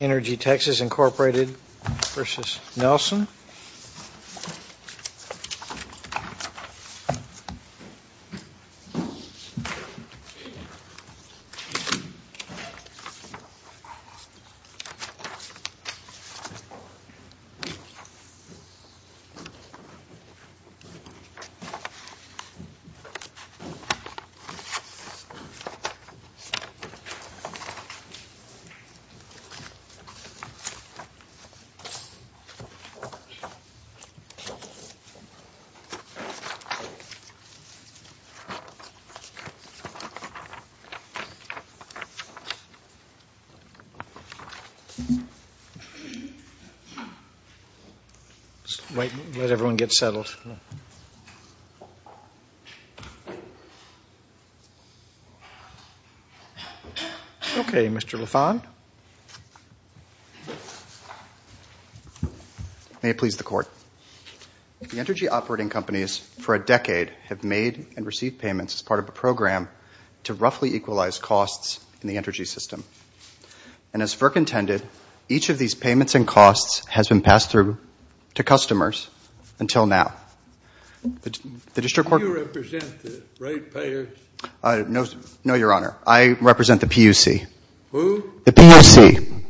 Energy Texas, Incorporated v. Nelson Okay, Mr. Laffon. May it please the Court, the energy operating companies for a decade have made and received payments as part of a program to roughly equalize costs in the energy system. And as FERC intended, each of these payments and costs has been passed through to customers until now. Do you represent the rate payers? No, Your Honor. I represent the PUC. Who? The PUC.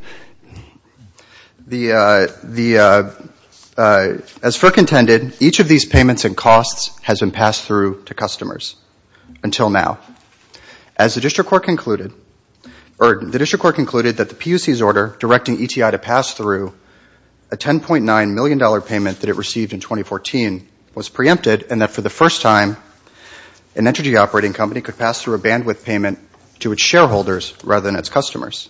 As FERC intended, each of these payments and costs has been passed through to customers until now. As the District Court concluded that the PUC's order directing ETI to pass through a $10.9 million payment that it received in 2014 was preempted and that for the first time an energy operating company could pass through a bandwidth payment to its shareholders rather than its customers.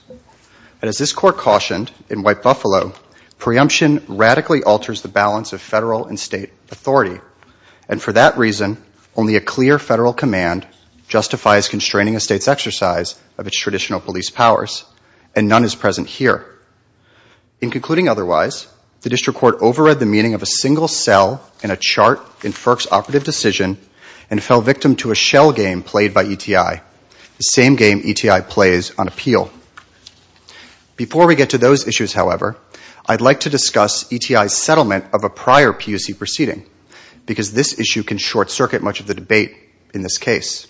And as this Court cautioned in White Buffalo, preemption radically alters the balance of federal and state authority. And for that reason, only a clear federal command justifies constraining a state's exercise of its traditional police powers. And none is present here. In concluding otherwise, the District Court overread the meaning of a single cell in a shell game played by ETI, the same game ETI plays on appeal. Before we get to those issues, however, I'd like to discuss ETI's settlement of a prior PUC proceeding because this issue can short circuit much of the debate in this case.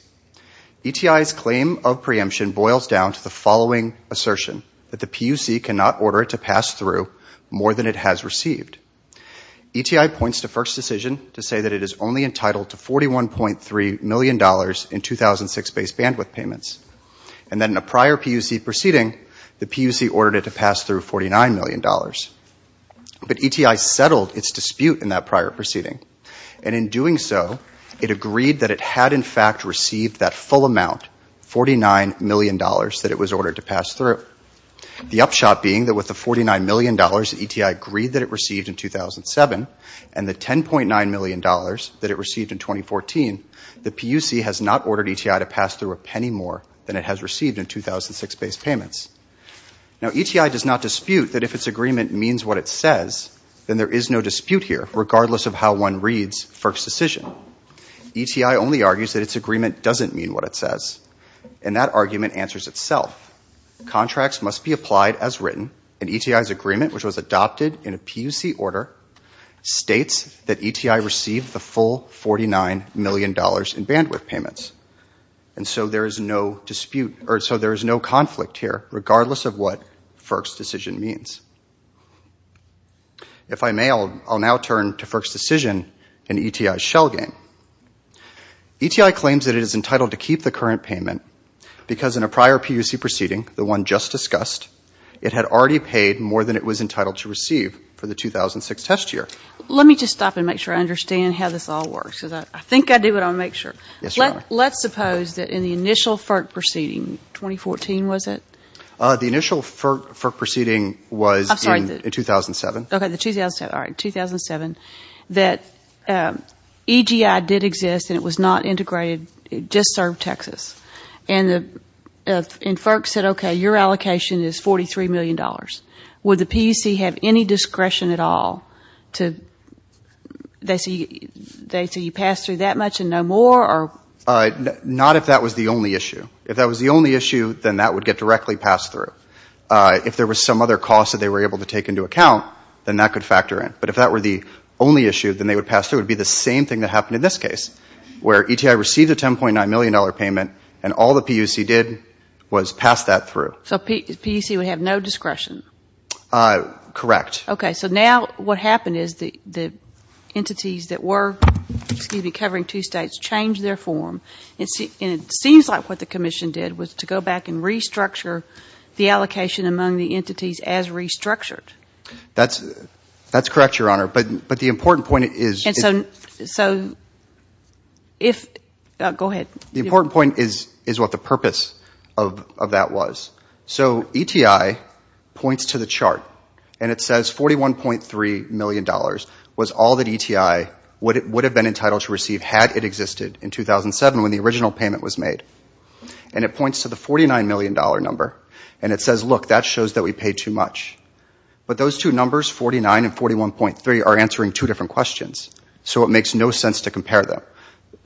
ETI's claim of preemption boils down to the following assertion that the PUC cannot order it to pass through more than it has received. ETI points to first decision to say that it is only entitled to $41.3 million in 2006 base bandwidth payments. And then in a prior PUC proceeding, the PUC ordered it to pass through $49 million. But ETI settled its dispute in that prior proceeding. And in doing so, it agreed that it had in fact received that full amount, $49 million, that it was ordered to pass through. The upshot being that with the $49 million that ETI agreed that it received in 2007, and the $10.9 million that it received in 2014, the PUC has not ordered ETI to pass through a penny more than it has received in 2006 base payments. Now, ETI does not dispute that if its agreement means what it says, then there is no dispute here, regardless of how one reads first decision. ETI only argues that its agreement doesn't mean what it says. And that argument answers itself. Contracts must be applied as written, and ETI's agreement, which was adopted in a PUC order, states that ETI received the full $49 million in bandwidth payments. And so there is no dispute, or so there is no conflict here, regardless of what first decision means. If I may, I'll now turn to first decision and ETI's shell game. ETI claims that it is entitled to keep the current payment because in a prior PUC proceeding, the one just discussed, it had already paid more than it was entitled to receive for the 2006 test year. Let me just stop and make sure I understand how this all works, because I think I do, but I want to make sure. Yes, Your Honor. Let's suppose that in the initial FERC proceeding, 2014 was it? The initial FERC proceeding was in 2007. Okay, the 2007, all right, 2007, that EGI did exist and it was not integrated, it just served Texas. And FERC said, okay, your allocation is $43 million. Would the PUC have any discretion at all to, they say you pass through that much and no more or? Not if that was the only issue. If that was the only issue, then that would get directly passed through. If there was some other cost that they were able to take into account, then that could factor in. But if that were the only issue, then they would pass through, it would be the same thing that happened in this case, where ETI received a $10.9 million payment and all the PUC did was pass that through. So the PUC would have no discretion? Correct. Okay, so now what happened is the entities that were, excuse me, covering two states changed their form and it seems like what the Commission did was to go back and restructure the allocation among the entities as restructured. That's correct, Your Honor. But the important point is, the important point is what the purpose of that was. So ETI points to the chart and it says $41.3 million was all that ETI would have been entitled to receive had it existed in 2007 when the original payment was made. And it points to the $49 million number and it says, look, that shows that we paid too much. But those two numbers, 49 and 41.3, are answering two different questions, so it makes no sense to compare them.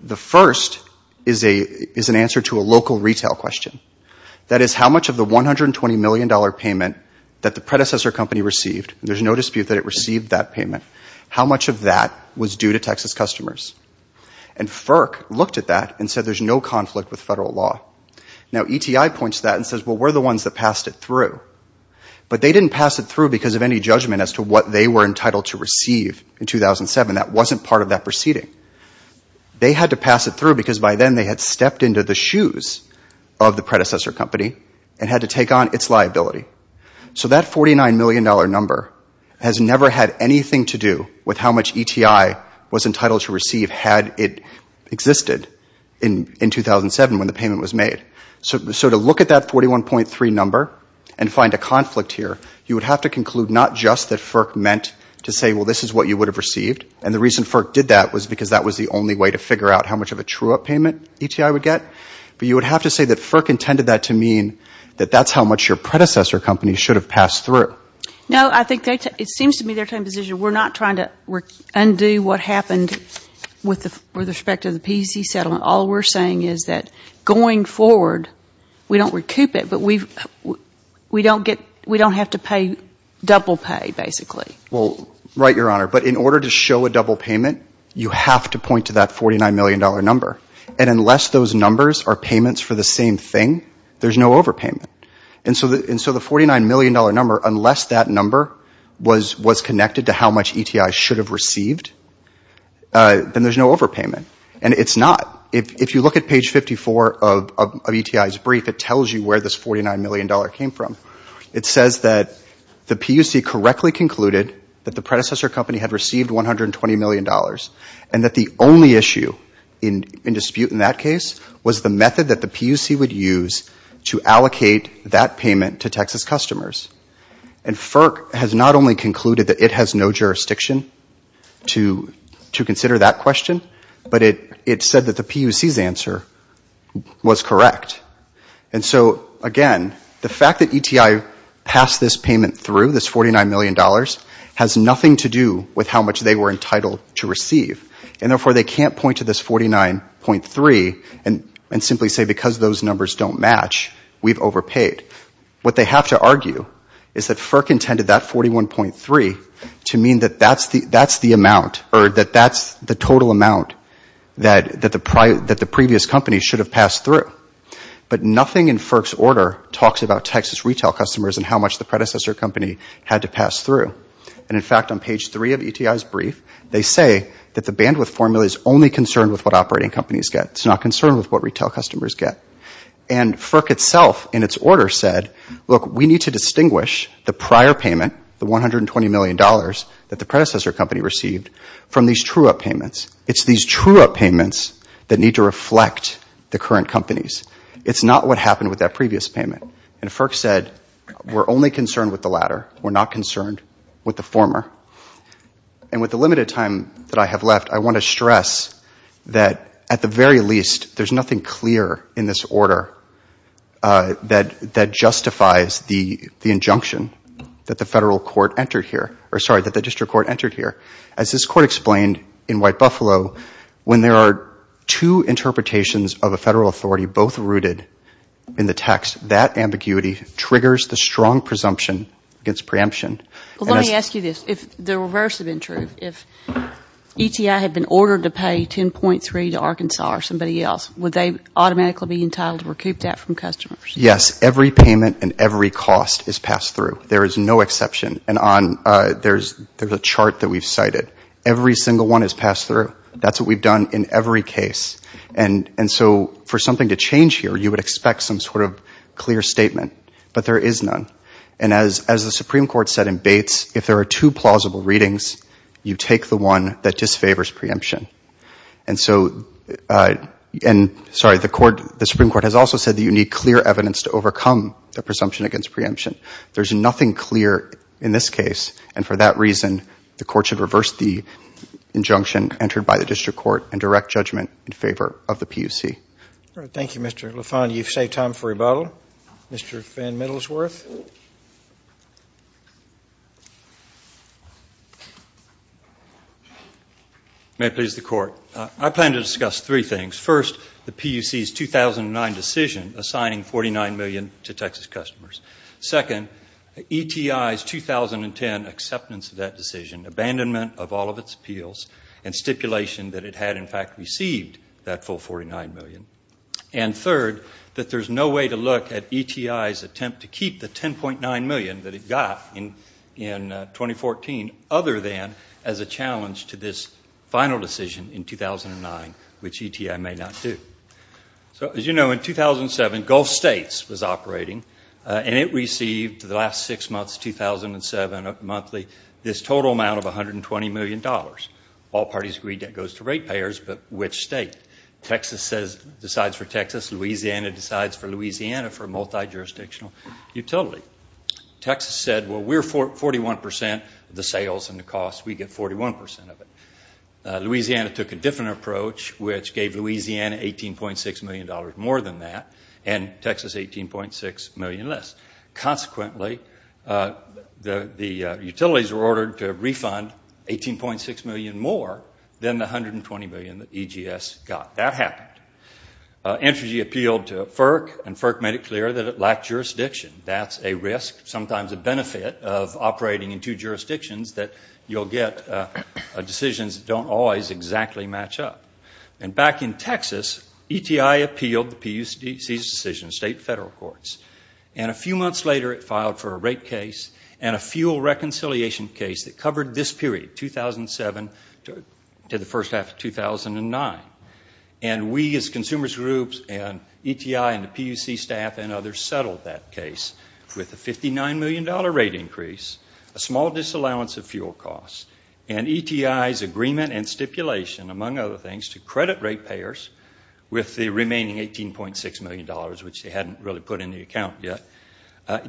The first is an answer to a local retail question. That is, how much of the $120 million payment that the predecessor company received, there's no dispute that it received that payment, how much of that was due to Texas customers? And FERC looked at that and said there's no conflict with federal law. Now ETI points to that and says, well, we're the ones that passed it through. But they didn't pass it through because of any judgment as to what they were entitled to receive in 2007. That wasn't part of that proceeding. They had to pass it through because by then they had stepped into the shoes of the predecessor company and had to take on its liability. So that $49 million number has never had anything to do with how much ETI was entitled to receive had it existed in 2007 when the payment was made. So to look at that 41.3 number and find a conflict here, you would have to conclude not just that FERC meant to say, well, this is what you would have received, and the reason FERC did that was because that was the only way to figure out how much of a true up payment ETI would get, but you would have to say that FERC intended that to mean that that's how much your predecessor company should have passed through. No, I think it seems to me they're taking the position we're not trying to undo what happened with respect to the PC settlement. All we're saying is that going forward, we don't recoup it, but we don't have to pay double pay, basically. Well, right, Your Honor. But in order to show a double payment, you have to point to that $49 million number. And unless those numbers are payments for the same thing, there's no overpayment. And so the $49 million number, unless that number was connected to how much ETI should have received, then there's no overpayment. And it's not. If you look at page 54 of ETI's brief, it tells you where this $49 million came from. It says that the PUC correctly concluded that the predecessor company had received $120 million, and that the only issue in dispute in that case was the method that the PUC would use to allocate that payment to Texas customers. And FERC has not only concluded that it has no jurisdiction to consider that question, but it said that the PUC's answer was correct. And so, again, the fact that ETI passed this payment through, this $49 million, has nothing to do with how much they were entitled to receive. And therefore, they can't point to this $49.3 million and simply say, because those numbers don't match, we've overpaid. What they have to argue is that FERC intended that $41.3 million to mean that that's the amount, or that that's the total amount that the previous company should have passed through. But nothing in FERC's order talks about Texas retail customers and how much the predecessor company had to pass through. And in fact, on page three of ETI's brief, they say that the bandwidth formula is only concerned with what operating companies get. It's not concerned with what retail customers get. And FERC itself, in its order, said, look, we need to distinguish the prior payment, the $120 million that the predecessor company received, from these true-up payments. It's these true-up payments that need to reflect the current companies. It's not what happened with that previous payment. And FERC said, we're only concerned with the latter. We're not concerned with the former. And with the limited time that I have left, I want to stress that, at the very least, there's nothing clear in this order that justifies the injunction that the federal court entered here, or sorry, that the district court entered here. As this court explained in White Buffalo, when there are two interpretations of a federal authority, both rooted in the text, that ambiguity triggers the strong presumption against preemption. Well, let me ask you this. If the reverse had been true, if ETI had been ordered to pay $10.3 million to Arkansas or somebody else, would they automatically be entitled to recoup that from customers? Yes. Every payment and every cost is passed through. There is no exception. And there's a chart that we've cited. Every single one is passed through. That's what we've done in every case. And so for something to change here, you would expect some sort of clear statement. But there is none. And as the Supreme Court said in Bates, if there are two plausible readings, you take the one that disfavors preemption. And so, sorry, the Supreme Court has also said that you need clear evidence to overcome the presumption against preemption. There's nothing clear in this case. And for that reason, the court should reverse the injunction entered by the district court and direct judgment in favor of the PUC. All right. Thank you, Mr. LaFont. You've saved time for rebuttal. Mr. Van Middlesworth. May it please the Court. I plan to discuss three things. First, the PUC's 2009 decision assigning $49 million to Texas customers. Second, ETI's 2010 acceptance of that decision, abandonment of all of its appeals, and stipulation that it had, in fact, received that full $49 million. And third, that there's no way to look at ETI's attempt to keep the $10.9 million that it got in 2014 other than as a challenge to this final decision in 2009, which ETI may not do. So, as you know, in 2007, Gulf States was operating, and it received, for the last six months, 2007, monthly, this total amount of $120 million. All parties agreed that goes to rate payers, but which state? Texas decides for Texas, Louisiana decides for Louisiana for a multi-jurisdictional utility. Texas said, well, we're 41% of the sales and the cost. We get 41% of it. Louisiana took a different approach, which gave Louisiana $18.6 million more than that, and Texas $18.6 million less. Consequently, the utilities were ordered to refund $18.6 million more than the $120 million that EGS got. That happened. Entry appealed to FERC, and FERC made it clear that it lacked jurisdiction. That's a risk, sometimes a benefit, of operating in two jurisdictions that you'll get decisions that don't always exactly match up. And back in Texas, ETI appealed the PUC's decision, state and federal courts. And a few months later, it filed for a rate case and a fuel reconciliation case that covered this period, 2007 to the first half of 2009. And we as consumers groups and ETI and the PUC staff and others settled that case with a $59 million rate increase, a small disallowance of fuel costs, and ETI's agreement and stipulation, among other things, to credit rate payers with the remaining $18.6 million, which they hadn't really put in the account yet,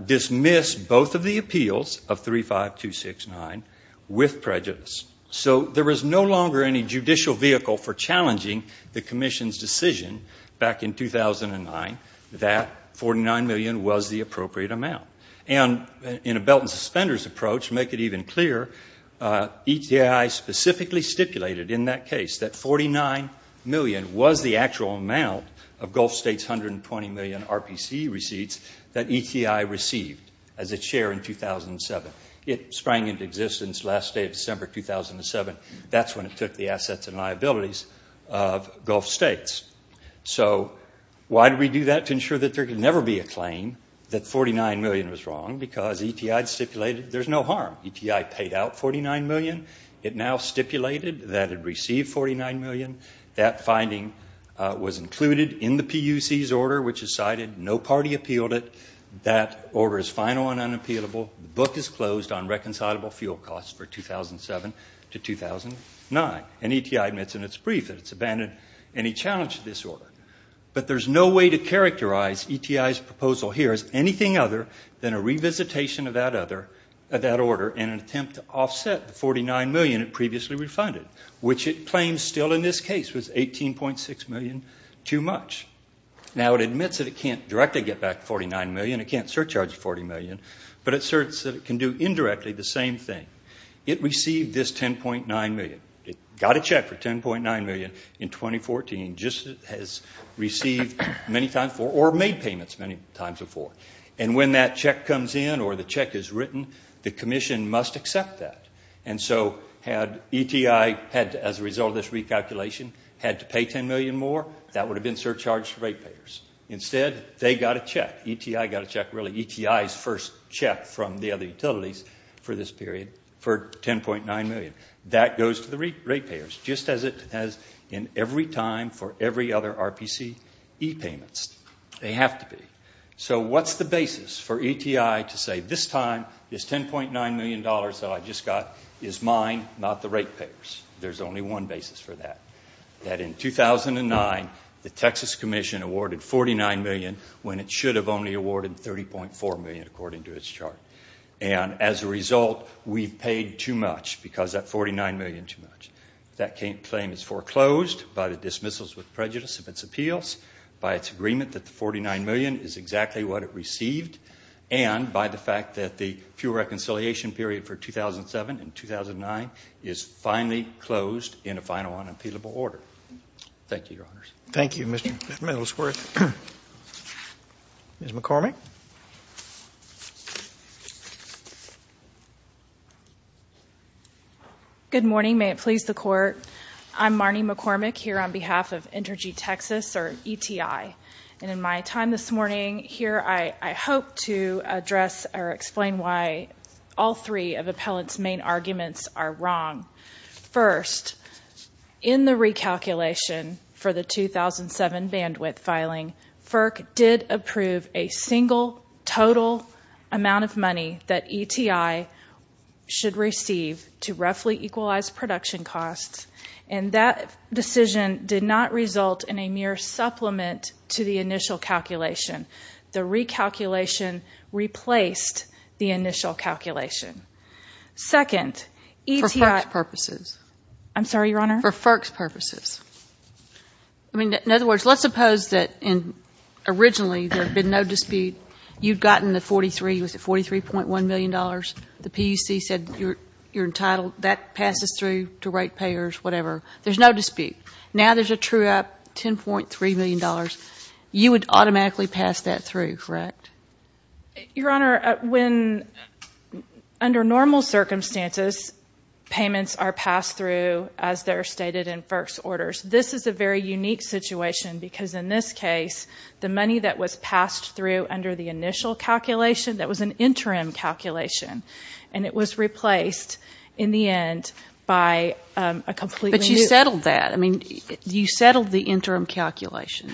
dismiss both of the appeals of 35269 with prejudice. So there was no longer any judicial vehicle for challenging the commission's decision back in 2009 that $49 million was the appropriate amount. And in a belt and suspenders approach, to make it even clearer, ETI specifically stipulated in that case that $49 million was the actual amount of Gulf States' $120 million RPC receipts that ETI received as its share in 2007. It sprang into existence last day of December 2007. That's when it took the assets and liabilities of Gulf States. So why did we do that? To ensure that there could never be a claim that $49 million was wrong, because ETI stipulated there's no harm. ETI paid out $49 million. It now stipulated that it received $49 million. That finding was included in the PUC's order, which is cited. No party appealed it. That order is final and unappealable. The book is closed on reconcilable fuel costs for 2007 to 2009. And ETI admits in its brief that it's abandoned any challenge to this order. But there's no way to characterize ETI's proposal here as anything other than a revisitation of that order in an attempt to offset the $49 million it previously refunded, which it claims still in this case was $18.6 million too much. Now it admits that it can't directly get back the $49 million. It can't surcharge the $40 million. But it asserts that it can do indirectly the same thing. It received this $10.9 million. It got a check for $10.9 million in 2014, just as it has received many times before, or made payments many times before. And when that check comes in or the check is written, the commission must accept that. And so had ETI had, as a result of this recalculation, had to pay $10 million more, that would have been surcharge for ratepayers. Instead, they got a check. ETI got a check, really. ETI's first check from the other utilities for this period for $10.9 million. That goes to the ratepayers, just as it has in every time for every other RPC e-payments. They have to be. So what's the basis for ETI to say, this time, this $10.9 million that I just got is mine, not the ratepayers? There's only one basis for that, that in 2009, the Texas Commission awarded $49 million when it should have only awarded $30.4 million, according to its chart. And as a result, we've paid too much because of that $49 million too much. That claim is foreclosed by the dismissals with prejudice of its appeals, by its agreement that the $49 million is exactly what it received, and by the fact that the fuel reconciliation period for 2007 and 2009 is finally closed in a final unappealable order. Thank you, Your Honors. Thank you, Mr. Middlesworth. Ms. McCormick? Good morning. May it please the Court. I'm Marnie McCormick here on behalf of Entergy Texas, or ETI. And in my time this morning here, I hope to address or explain why all three of appellants' main arguments are wrong. First, in the recalculation for the 2007 bandwidth filing, FERC did approve a single total amount of money that ETI should receive to roughly equalize production costs. And that decision did not result in a mere supplement to the initial calculation. The recalculation replaced the initial calculation. Second, ETI— For FERC's purposes. I'm sorry, Your Honor? For FERC's purposes. I mean, in other words, let's suppose that originally there had been no dispute. You'd gotten the 43—was it $43.1 million? The PUC said you're entitled—that passes through to ratepayers, whatever. There's no dispute. Now there's a true-up, $10.3 million. You would automatically pass that through, correct? Your Honor, when—under normal circumstances, payments are passed through as they're stated in FERC's orders. This is a very unique situation because in this case, the money that was passed through under the initial calculation, that was an interim calculation. And it was replaced in the end by a completely new— But you settled that. I mean, you settled the interim calculation.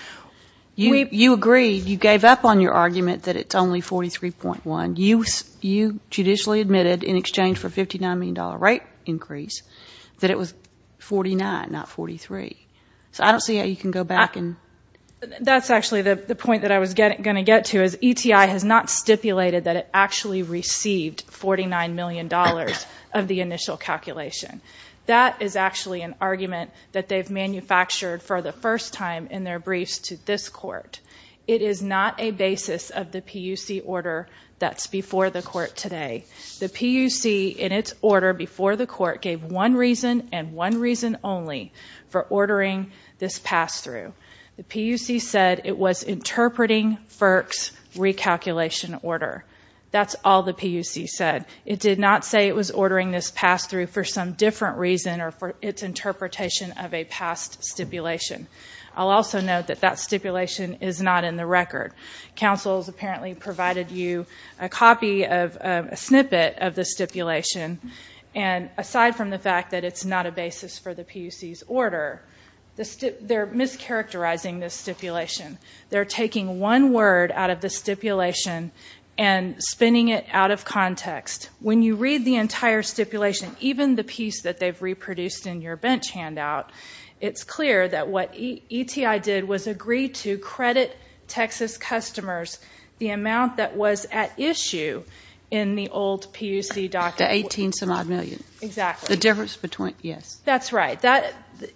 You agreed. You gave up on your argument that it's only 43.1. You judicially admitted in exchange for a $59 million rate increase that it was 49, not 43. So I don't see how you can go back and— That's actually the point that I was going to get to, is ETI has not stipulated that it actually received $49 million of the initial calculation. That is actually an argument that they've manufactured for the first time in their briefs to this Court. It is not a basis of the PUC order that's before the Court today. The PUC, in its order before the Court, gave one reason and one reason only for ordering this pass-through. The PUC said it was interpreting FERC's recalculation order. That's all the PUC said. It did not say it was ordering this pass-through for some different reason or for its interpretation of a past stipulation. I'll also note that that stipulation is not in the record. Counsel's apparently provided you a copy of—a snippet of the stipulation. Aside from the fact that it's not a basis for the PUC's order, they're mischaracterizing this stipulation. They're taking one word out of the stipulation and spinning it out of context. When you read the entire stipulation, even the piece that they've reproduced in your bench handout, it's clear that what ETI did was agree to credit Texas customers the issue in the old PUC document. The 18-some-odd-million. Exactly. The difference between—yes. That's right.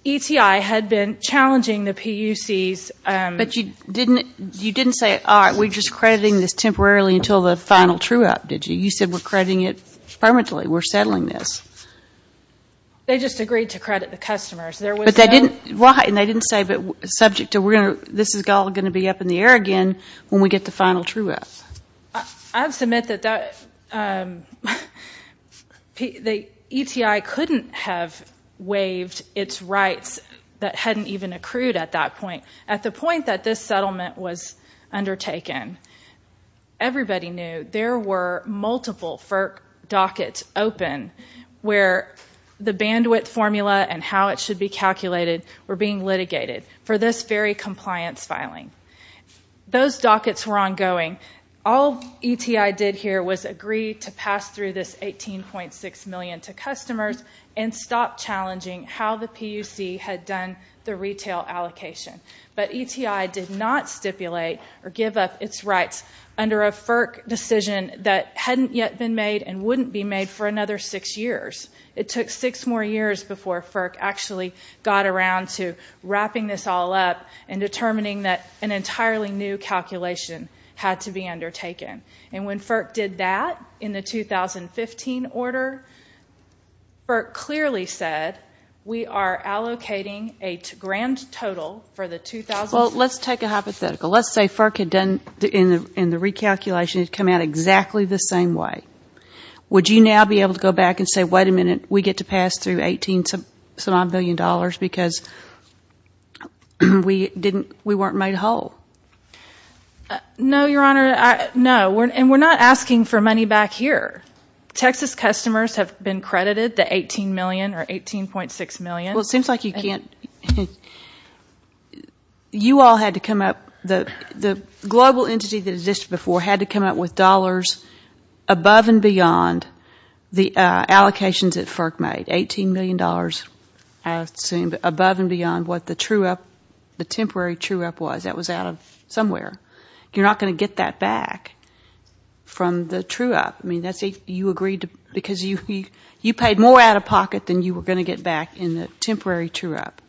ETI had been challenging the PUC's— But you didn't say, all right, we're just crediting this temporarily until the final true-up, did you? You said we're crediting it permanently. We're settling this. They just agreed to credit the customers. There was no— But they didn't—right. And they didn't say subject to this is all going to be up in the air again when we get the final true-up. I have to admit that the ETI couldn't have waived its rights that hadn't even accrued at that point. At the point that this settlement was undertaken, everybody knew there were multiple FERC dockets open where the bandwidth formula and how it should be calculated were being litigated for this very compliance filing. Those dockets were ongoing. All ETI did here was agree to pass through this $18.6 million to customers and stop challenging how the PUC had done the retail allocation. But ETI did not stipulate or give up its rights under a FERC decision that hadn't yet been made and wouldn't be made for another six years. It took six more years before FERC actually got around to wrapping this all up and determining that an entirely new calculation had to be undertaken. And when FERC did that in the 2015 order, FERC clearly said, we are allocating a grand total for the 2015— Well, let's take a hypothetical. Let's say FERC had done—in the recalculation, it had come out exactly the same way. Would you now be able to go back and say, wait a minute, we get to pass through $18.9 million because we weren't made whole? No, Your Honor. No. And we're not asking for money back here. Texas customers have been credited the $18 million or $18.6 million. Well, it seems like you can't—you all had to come up—the global entity that existed before had to come up with dollars above and beyond the allocations that FERC made, $18 million. $18 million dollars, I assume, above and beyond what the true up—the temporary true up was. That was out of somewhere. You're not going to get that back from the true up. I mean, that's if you agreed to—because you paid more out of pocket than you were going to get back in the temporary true up,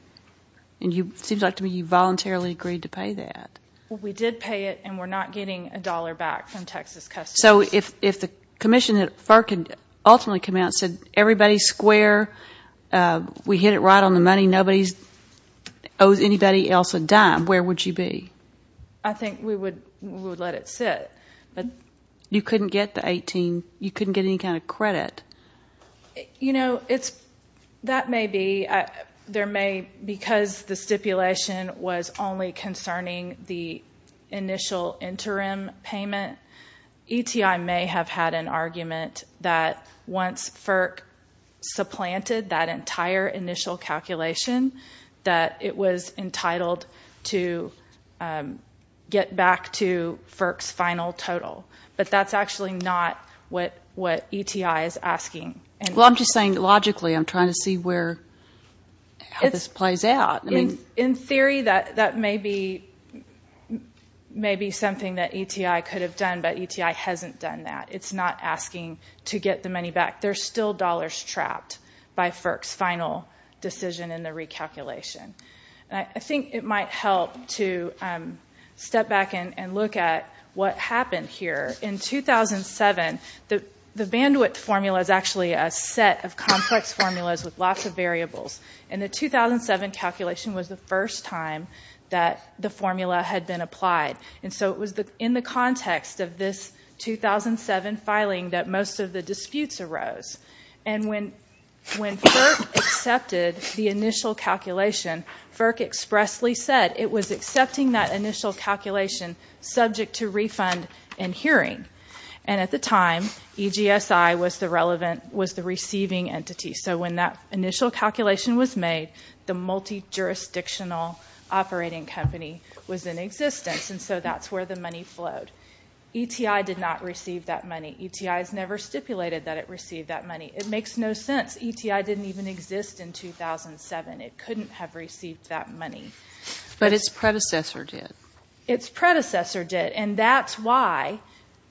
and it seems like to me you voluntarily agreed to pay that. Well, we did pay it, and we're not getting a dollar back from Texas customers. So if the commission that FERC ultimately came out and said, everybody's square, we hit it right on the money, nobody owes anybody else a dime, where would you be? I think we would let it sit, but you couldn't get the $18—you couldn't get any kind of credit. You know, it's—that may be—there may—because the stipulation was only concerning the initial interim payment, ETI may have had an argument that once FERC supplanted that entire initial calculation that it was entitled to get back to FERC's final total. But that's actually not what ETI is asking. Well, I'm just saying logically, I'm trying to see where—how this plays out. In theory, that may be something that ETI could have done, but ETI hasn't done that. It's not asking to get the money back. There's still dollars trapped by FERC's final decision in the recalculation. I think it might help to step back and look at what happened here. In 2007, the bandwidth formula is actually a set of complex formulas with lots of variables, and the 2007 calculation was the first time that the formula had been applied. And so it was in the context of this 2007 filing that most of the disputes arose. And when FERC accepted the initial calculation, FERC expressly said it was accepting that initial calculation subject to refund and hearing. And at the time, EGSI was the relevant—was the receiving entity. So when that initial calculation was made, the multi-jurisdictional operating company was in existence, and so that's where the money flowed. ETI did not receive that money. ETI has never stipulated that it received that money. It makes no sense. ETI didn't even exist in 2007. It couldn't have received that money. But its predecessor did. Its predecessor did, and that's why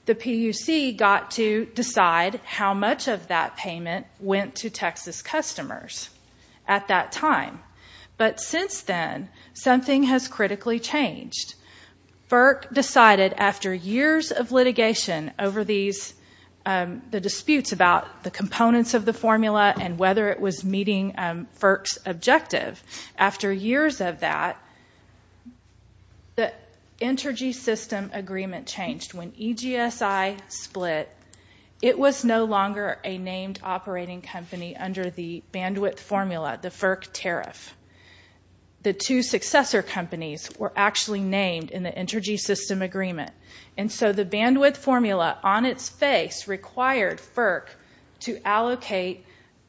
the PUC got to decide how much of that payment went to Texas customers at that time. But since then, something has critically changed. FERC decided after years of litigation over these—the disputes about the components of the formula and whether it was meeting FERC's objective. After years of that, the Entergy System Agreement changed. When EGSI split, it was no longer a named operating company under the bandwidth formula, the FERC tariff. The two successor companies were actually named in the Entergy System Agreement. And so the bandwidth formula on its face required FERC to allocate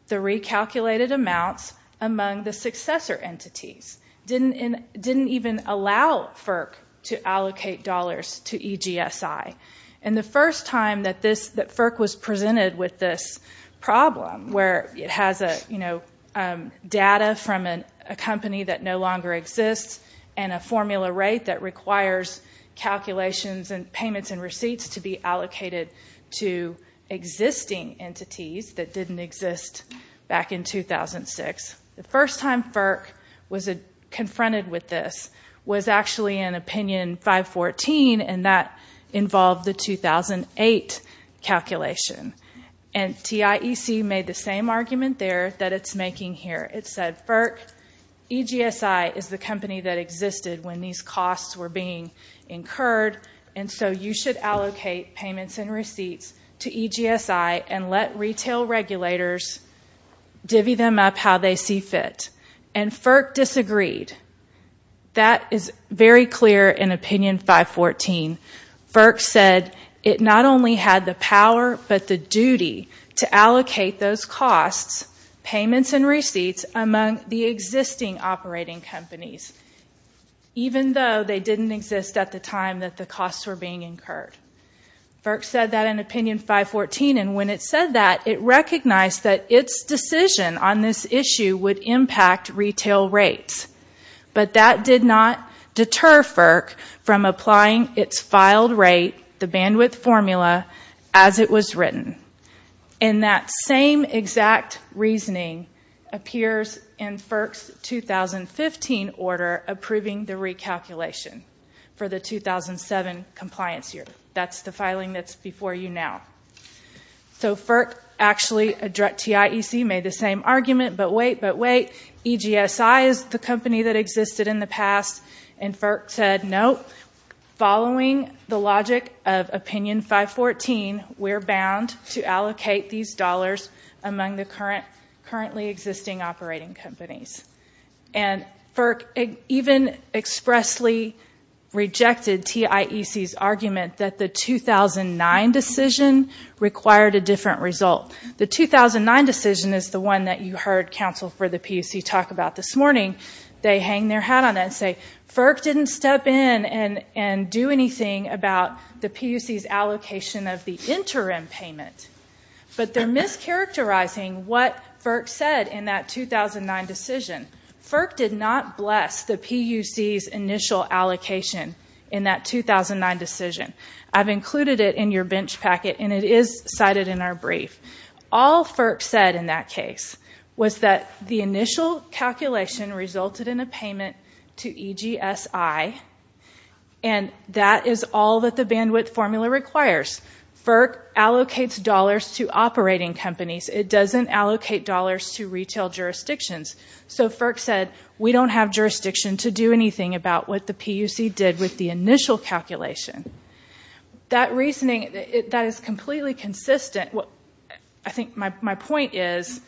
the recalculated amounts among the successor entities, didn't even allow FERC to allocate dollars to EGSI. And the first time that FERC was presented with this problem, where it has data from a company that no longer exists and a formula rate that requires calculations and payments and receipts to be allocated to existing entities that didn't exist back in 2006. The first time FERC was confronted with this was actually in opinion 514, and that involved the 2008 calculation. And TIEC made the same argument there that it's making here. It said, FERC, EGSI is the company that existed when these costs were being incurred, and so you should allocate payments and receipts to EGSI and let retail regulators divvy them up how they see fit. And FERC disagreed. That is very clear in opinion 514. FERC said it not only had the power but the duty to allocate those costs, payments and receipts among the existing operating companies, even though they didn't exist at the time that the costs were being incurred. FERC said that in opinion 514, and when it said that, it recognized that its decision on this issue would impact retail rates. But that did not deter FERC from applying its filed rate, the bandwidth formula, as it was written. And that same exact reasoning appears in FERC's 2015 order approving the recalculation for the 2007 compliance year. That's the filing that's before you now. So FERC actually, TIEC, made the same argument, but wait, but wait, EGSI is the company that existed in the past, and FERC said, no, following the logic of opinion 514, we're bound to allocate these dollars among the currently existing operating companies. And FERC even expressly rejected TIEC's argument that the 2009 decision would not require a different result. The 2009 decision is the one that you heard counsel for the PUC talk about this morning. They hang their hat on it and say, FERC didn't step in and do anything about the PUC's allocation of the interim payment. But they're mischaracterizing what FERC said in that 2009 decision. FERC did not bless the PUC's initial allocation in that 2009 decision. I've included it in your bench packet, and it is cited in our brief. All FERC said in that case was that the initial calculation resulted in a payment to EGSI, and that is all that the bandwidth formula requires. FERC allocates dollars to operating companies. It doesn't allocate dollars to retail jurisdictions. So FERC said, we don't have jurisdiction to do anything about what the PUC did with the That reasoning, that is completely consistent. I think my point is,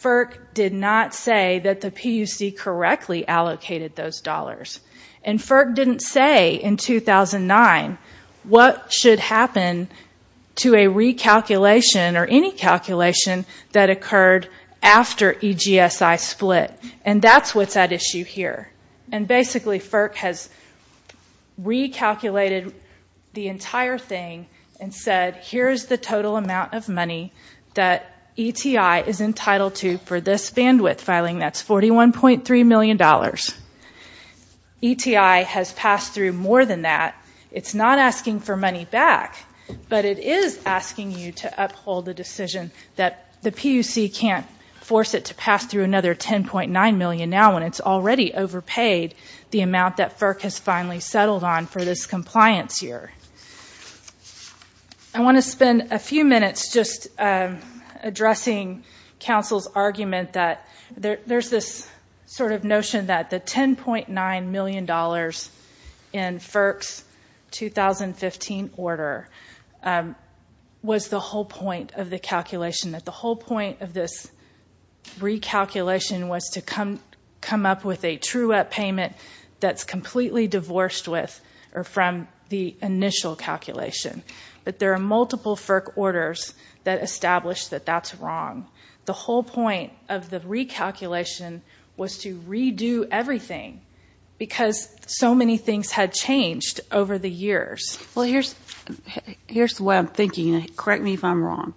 FERC did not say that the PUC correctly allocated those dollars. And FERC didn't say in 2009 what should happen to a recalculation or any calculation that occurred after EGSI split. And that's what's at issue here. And basically, FERC has recalculated the entire thing and said, here's the total amount of money that ETI is entitled to for this bandwidth filing. That's $41.3 million. ETI has passed through more than that. It's not asking for money back, but it is asking you to uphold the decision that the PUC has paid, the amount that FERC has finally settled on for this compliance year. I want to spend a few minutes just addressing Council's argument that there's this sort of notion that the $10.9 million in FERC's 2015 order was the whole point of the calculation, that the whole point of this recalculation was to come up with a true-up payment that's completely divorced with or from the initial calculation. But there are multiple FERC orders that establish that that's wrong. The whole point of the recalculation was to redo everything because so many things had changed over the years. Well, here's the way I'm thinking. Correct me if I'm wrong.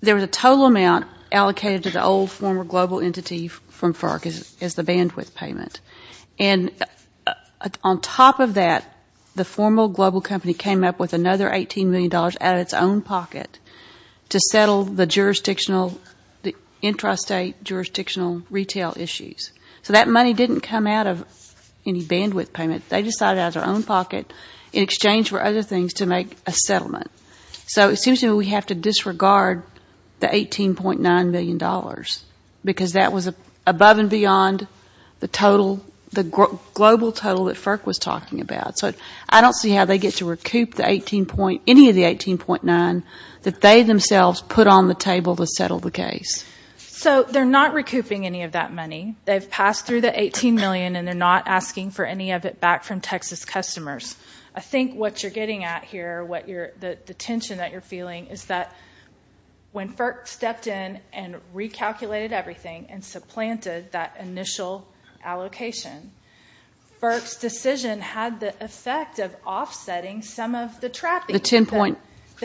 There was a total amount allocated to the old, former global entity from FERC as the bandwidth payment. And on top of that, the formal global company came up with another $18 million out of its own pocket to settle the jurisdictional, the intrastate jurisdictional retail issues. So that money didn't come out of any bandwidth payment. They decided it out of their own pocket in exchange for other things to make a settlement. So it seems to me we have to disregard the $18.9 million because that was above and beyond the total, the global total that FERC was talking about. So I don't see how they get to recoup any of the $18.9 that they themselves put on the table to settle the case. So they're not recouping any of that money. They've passed through the $18 million and they're not asking for any of it back from Texas customers. I think what you're getting at here, the tension that you're feeling is that when FERC stepped in and recalculated everything and supplanted that initial allocation, FERC's decision had the effect of offsetting some of the trapping, the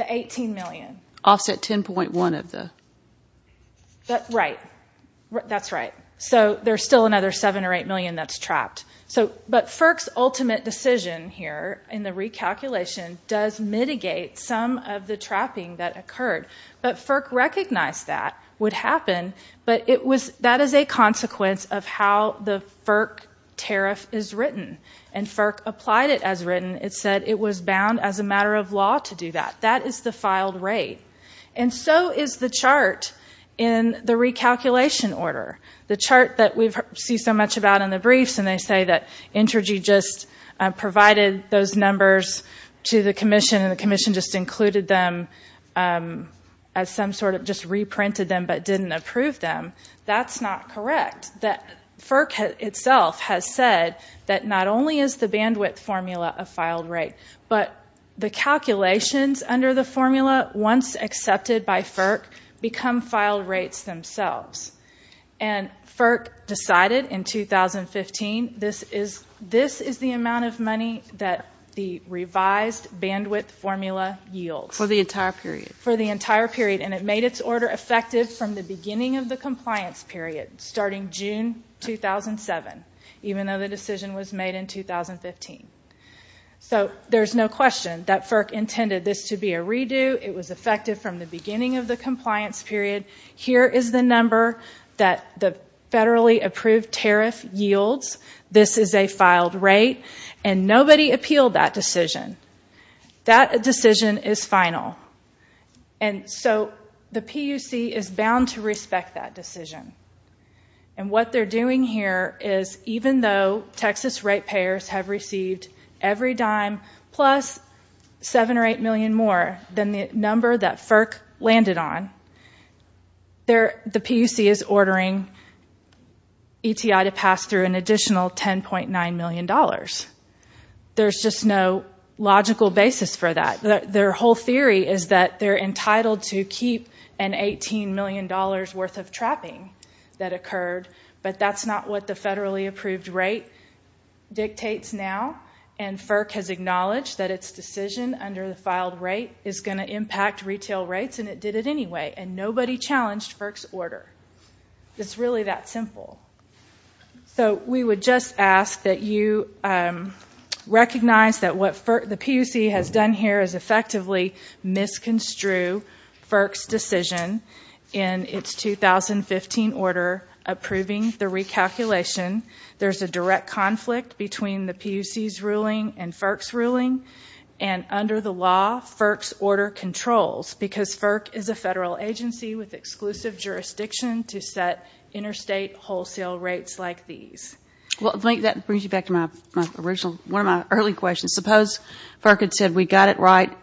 $18 million. Offset $10.1 of the... Right. That's right. So there's still another $7 or $8 million that's trapped. But FERC's ultimate decision here in the recalculation does mitigate some of the trapping that occurred. But FERC recognized that would happen, but that is a consequence of how the FERC tariff is written. And FERC applied it as written. It said it was bound as a matter of law to do that. That is the filed rate. And so is the chart in the recalculation order. The chart that we see so much about in the briefs and they say that Intergy just provided those numbers to the commission and the commission just included them as some sort of... Just reprinted them, but didn't approve them. That's not correct. FERC itself has said that not only is the bandwidth formula a filed rate, but the calculations under the formula, once accepted by FERC, become filed rates themselves. And FERC decided in 2015 this is the amount of money that the revised bandwidth formula yields. For the entire period. For the entire period. And it made its order effective from the beginning of the compliance period, starting June 2007, even though the decision was made in 2015. So there's no question that FERC intended this to be a redo. It was effective from the beginning of the compliance period. Here is the number that the federally approved tariff yields. This is a filed rate. And nobody appealed that decision. That decision is final. And so the PUC is bound to respect that decision. And what they're doing here is even though Texas rate payers have received every dime plus seven or eight million more than the number that FERC landed on, the PUC is ordering ETI to pass through an additional $10.9 million. There's just no logical basis for that. Their whole theory is that they're entitled to keep an $18 million worth of trapping that occurred, but that's not what the federally approved rate dictates now. And FERC has acknowledged that its decision under the filed rate is going to impact retail rates and it did it anyway. And nobody challenged FERC's order. It's really that simple. So, we would just ask that you recognize that what the PUC has done here is effectively misconstrue FERC's decision in its 2015 order approving the recalculation. There's a direct conflict between the PUC's ruling and FERC's ruling. And under the law, FERC's order controls, because FERC is a federal agency with exclusive jurisdiction, to set interstate wholesale rates like these. Well, I think that brings me back to one of my early questions. Suppose FERC had said, we got it right,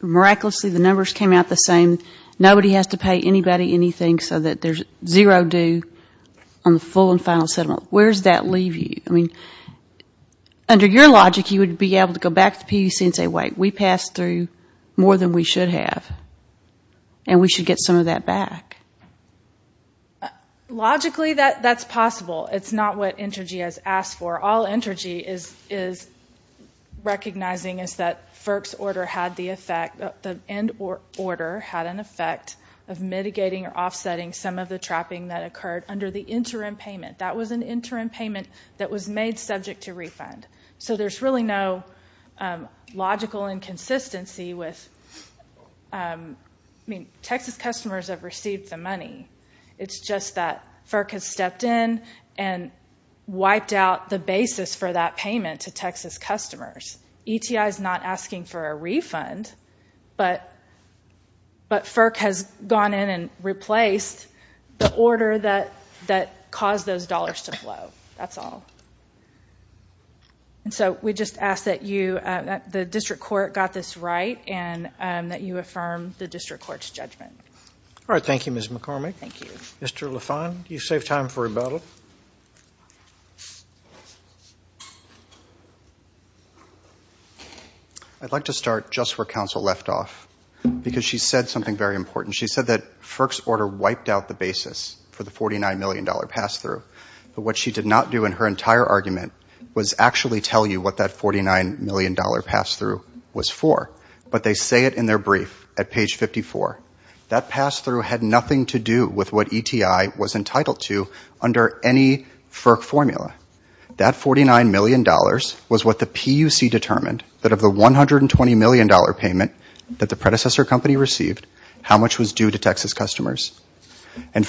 miraculously the numbers came out the same, nobody has to pay anybody anything so that there's zero due on the full and final settlement. Where does that leave you? Under your logic, you would be able to go back to the PUC and say, wait, we passed through more than we should have and we should get some of that back. Logically, that's possible. It's not what Entergy has asked for. All Entergy is recognizing is that FERC's order had the effect, the end order had an effect of mitigating or offsetting some of the trapping that occurred under the interim payment. That was an interim payment that was made subject to refund. There's really no logical inconsistency with... Texas customers have received the money. It's just that FERC has stepped in and wiped out the basis for that payment to Texas customers. ETI's not asking for a refund, but FERC has gone in and replaced the order that caused those dollars to flow. That's all. We just ask that the district court got this right and that you affirm the district court's judgment. All right. Thank you, Ms. McCormick. Thank you. Mr. Lafond, do you save time for rebuttal? I'd like to start just where counsel left off because she said something very important. She said that FERC's order wiped out the basis for the $49 million pass-through, but what she did not do in her entire argument was actually tell you what that $49 million pass-through was for, but they say it in their brief at page 54. That pass-through had nothing to do with what ETI was entitled to under any FERC formula. That $49 million was what the PUC determined that of the $120 million payment that the predecessor company received, how much was due to Texas customers. And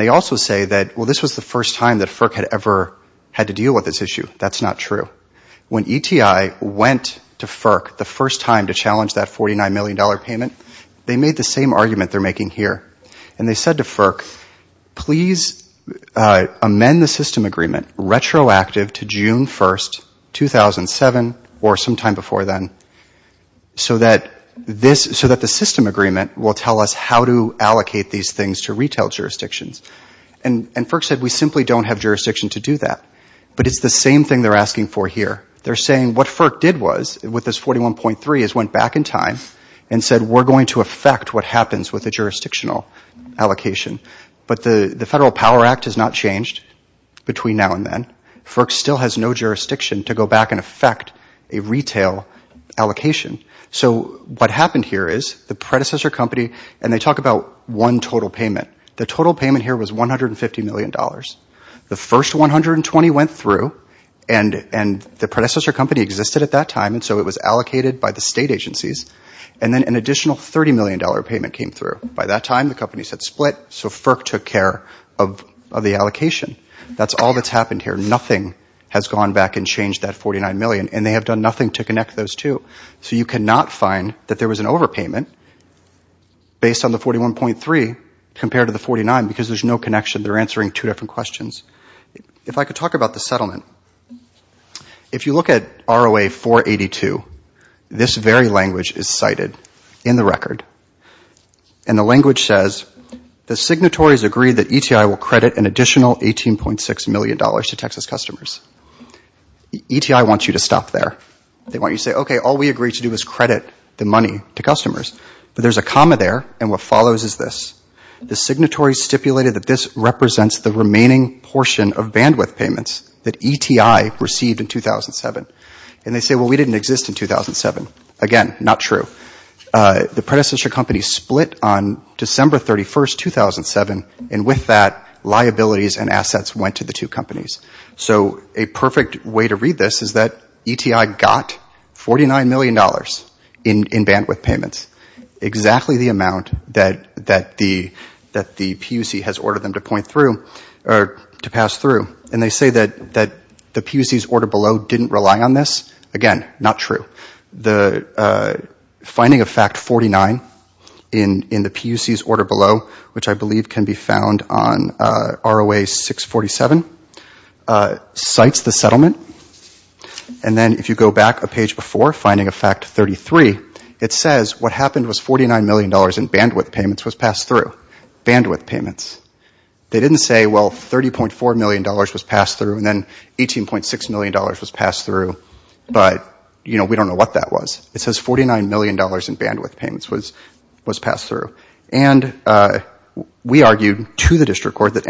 they also say that, well, this was the first time that FERC had ever had to deal with this issue. That's not true. When ETI went to FERC the first time to challenge that $49 million payment, they made the same argument they're making here. And they said to FERC, please amend the system agreement retroactive to June 1, 2007 or sometime how to allocate these things to retail jurisdictions. And FERC said we simply don't have jurisdiction to do that. But it's the same thing they're asking for here. They're saying what FERC did was with this $41.3 million is went back in time and said we're going to affect what happens with the jurisdictional allocation. But the Federal Power Act has not changed between now and then. FERC still has no jurisdiction to go back and affect a retail allocation. So what happened here is the predecessor company, and they talk about one total payment. The total payment here was $150 million. The first 120 went through and the predecessor company existed at that time and so it was allocated by the state agencies. And then an additional $30 million payment came through. By that time the company said split. So FERC took care of the allocation. That's all that's happened here. Nothing has gone back and changed that $49 million and they have done nothing to connect those two. So you cannot find that there was an overpayment based on the $41.3 compared to the $49 because there's no connection. They're answering two different questions. If I could talk about the settlement. If you look at ROA 482, this very language is cited in the record. And the language says the signatories agree that ETI will credit an additional $18.6 million to Texas customers. ETI wants you to stop there. They want you to say, okay, all we agreed to do is credit the money to customers. But there's a comma there and what follows is this. The signatory stipulated that this represents the remaining portion of bandwidth payments that ETI received in 2007. And they say, well, we didn't exist in 2007. Again, not true. The predecessor company split on December 31, 2007 and with that liabilities and assets went to the two companies. So a perfect way to read this is that ETI got $49 million in bandwidth payments, exactly the amount that the PUC has ordered them to pass through. And they say that the PUC's order below didn't rely on this. Again, not true. The finding of fact 49 in the PUC's order below, which I believe can be found on ROA 647, cites the settlement. And then if you go back a page before, finding of fact 33, it says what happened was $49 million in bandwidth payments was passed through. Bandwidth payments. They didn't say, well, $30.4 million was passed through and then $18.6 million was passed through. I don't know what that was. It says $49 million in bandwidth payments was passed through. And we argued to the district court that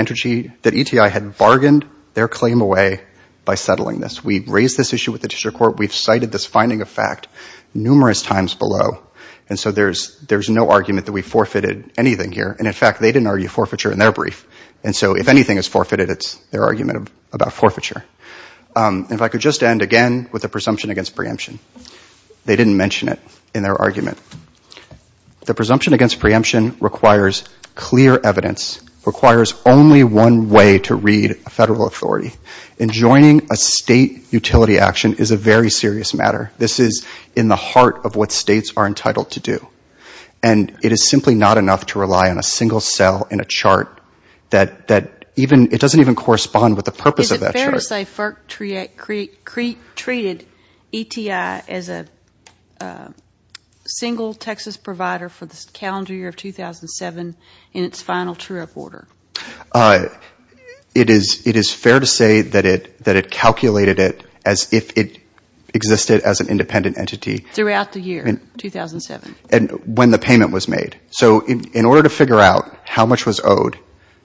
ETI had bargained their claim away by settling this. We raised this issue with the district court. We've cited this finding of fact numerous times below. And so there's no argument that we forfeited anything here. And in fact, they didn't argue forfeiture in their brief. And so if anything is forfeited, it's their argument about forfeiture. If I could just end again with the presumption against preemption. They didn't mention it in their argument. The presumption against preemption requires clear evidence, requires only one way to read a federal authority. Enjoining a state utility action is a very serious matter. This is in the heart of what states are entitled to do. And it is simply not enough to rely on a single cell in a chart that doesn't even correspond with the purpose of that chart. So let's say FERC treated ETI as a single Texas provider for the calendar year of 2007 in its final true up order. It is fair to say that it calculated it as if it existed as an independent entity. Throughout the year, 2007. And when the payment was made. So in order to figure out how much was owed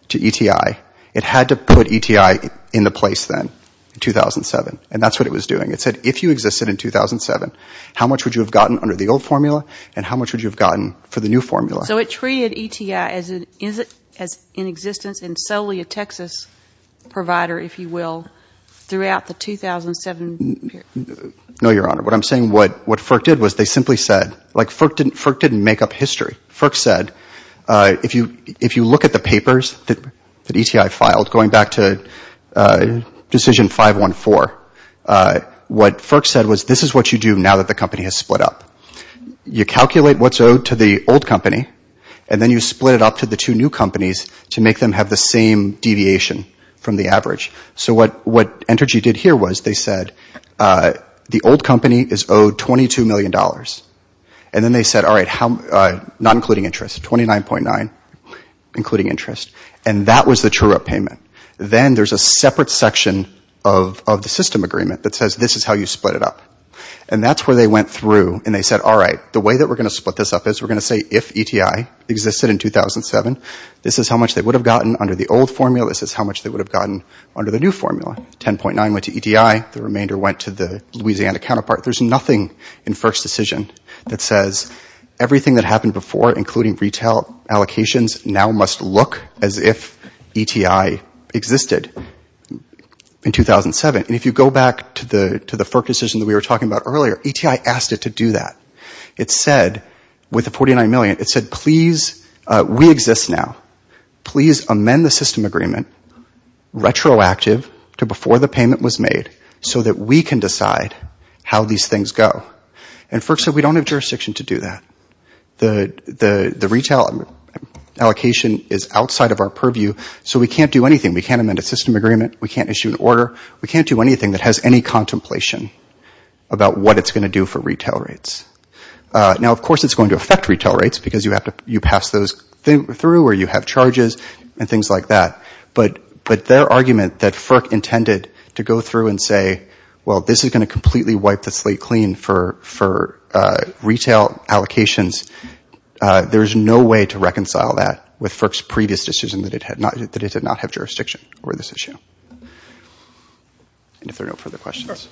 to ETI, it had to put ETI in the place then in 2007. And that's what it was doing. It said if you existed in 2007, how much would you have gotten under the old formula and how much would you have gotten for the new formula? So it treated ETI as in existence and solely a Texas provider, if you will, throughout the 2007 period. No, Your Honor. What I'm saying, what FERC did was they simply said, like FERC didn't make up history. FERC said if you look at the papers that ETI filed, going back to decision 514, what FERC said was this is what you do now that the company has split up. You calculate what's owed to the old company and then you split it up to the two new companies to make them have the same deviation from the average. So what Entergy did here was they said the old company is owed $22 million. And then they said, all right, not including interest, $29.9 million, including interest. And that was the true up payment. Then there's a separate section of the system agreement that says this is how you split it up. And that's where they went through and they said, all right, the way that we're going to split this up is we're going to say if ETI existed in 2007, this is how much they would have gotten under the old formula, this is how much they would have gotten under the new formula. $10.9 million went to ETI, the remainder went to the Louisiana counterpart. There's nothing in FERC's decision that says everything that happened before, including retail allocations, now must look as if ETI existed in 2007. And if you go back to the FERC decision that we were talking about earlier, ETI asked it to do that. It said, with the $49 million, it said, please, we exist now. Please amend the system agreement retroactive to before the payment was made so that we can decide how these things go. And FERC said we don't have jurisdiction to do that. The retail allocation is outside of our purview, so we can't do anything. We can't amend a system agreement. We can't issue an order. We can't do anything that has any contemplation about what it's going to do for retail rates. Now of course it's going to affect retail rates because you have to pass those through or you have charges and things like that. But their argument that FERC intended to go through and say, well, this is going to completely wipe the slate clean for retail allocations, there's no way to reconcile that with FERC's previous decision that it did not have jurisdiction over this issue. And if there are no further questions.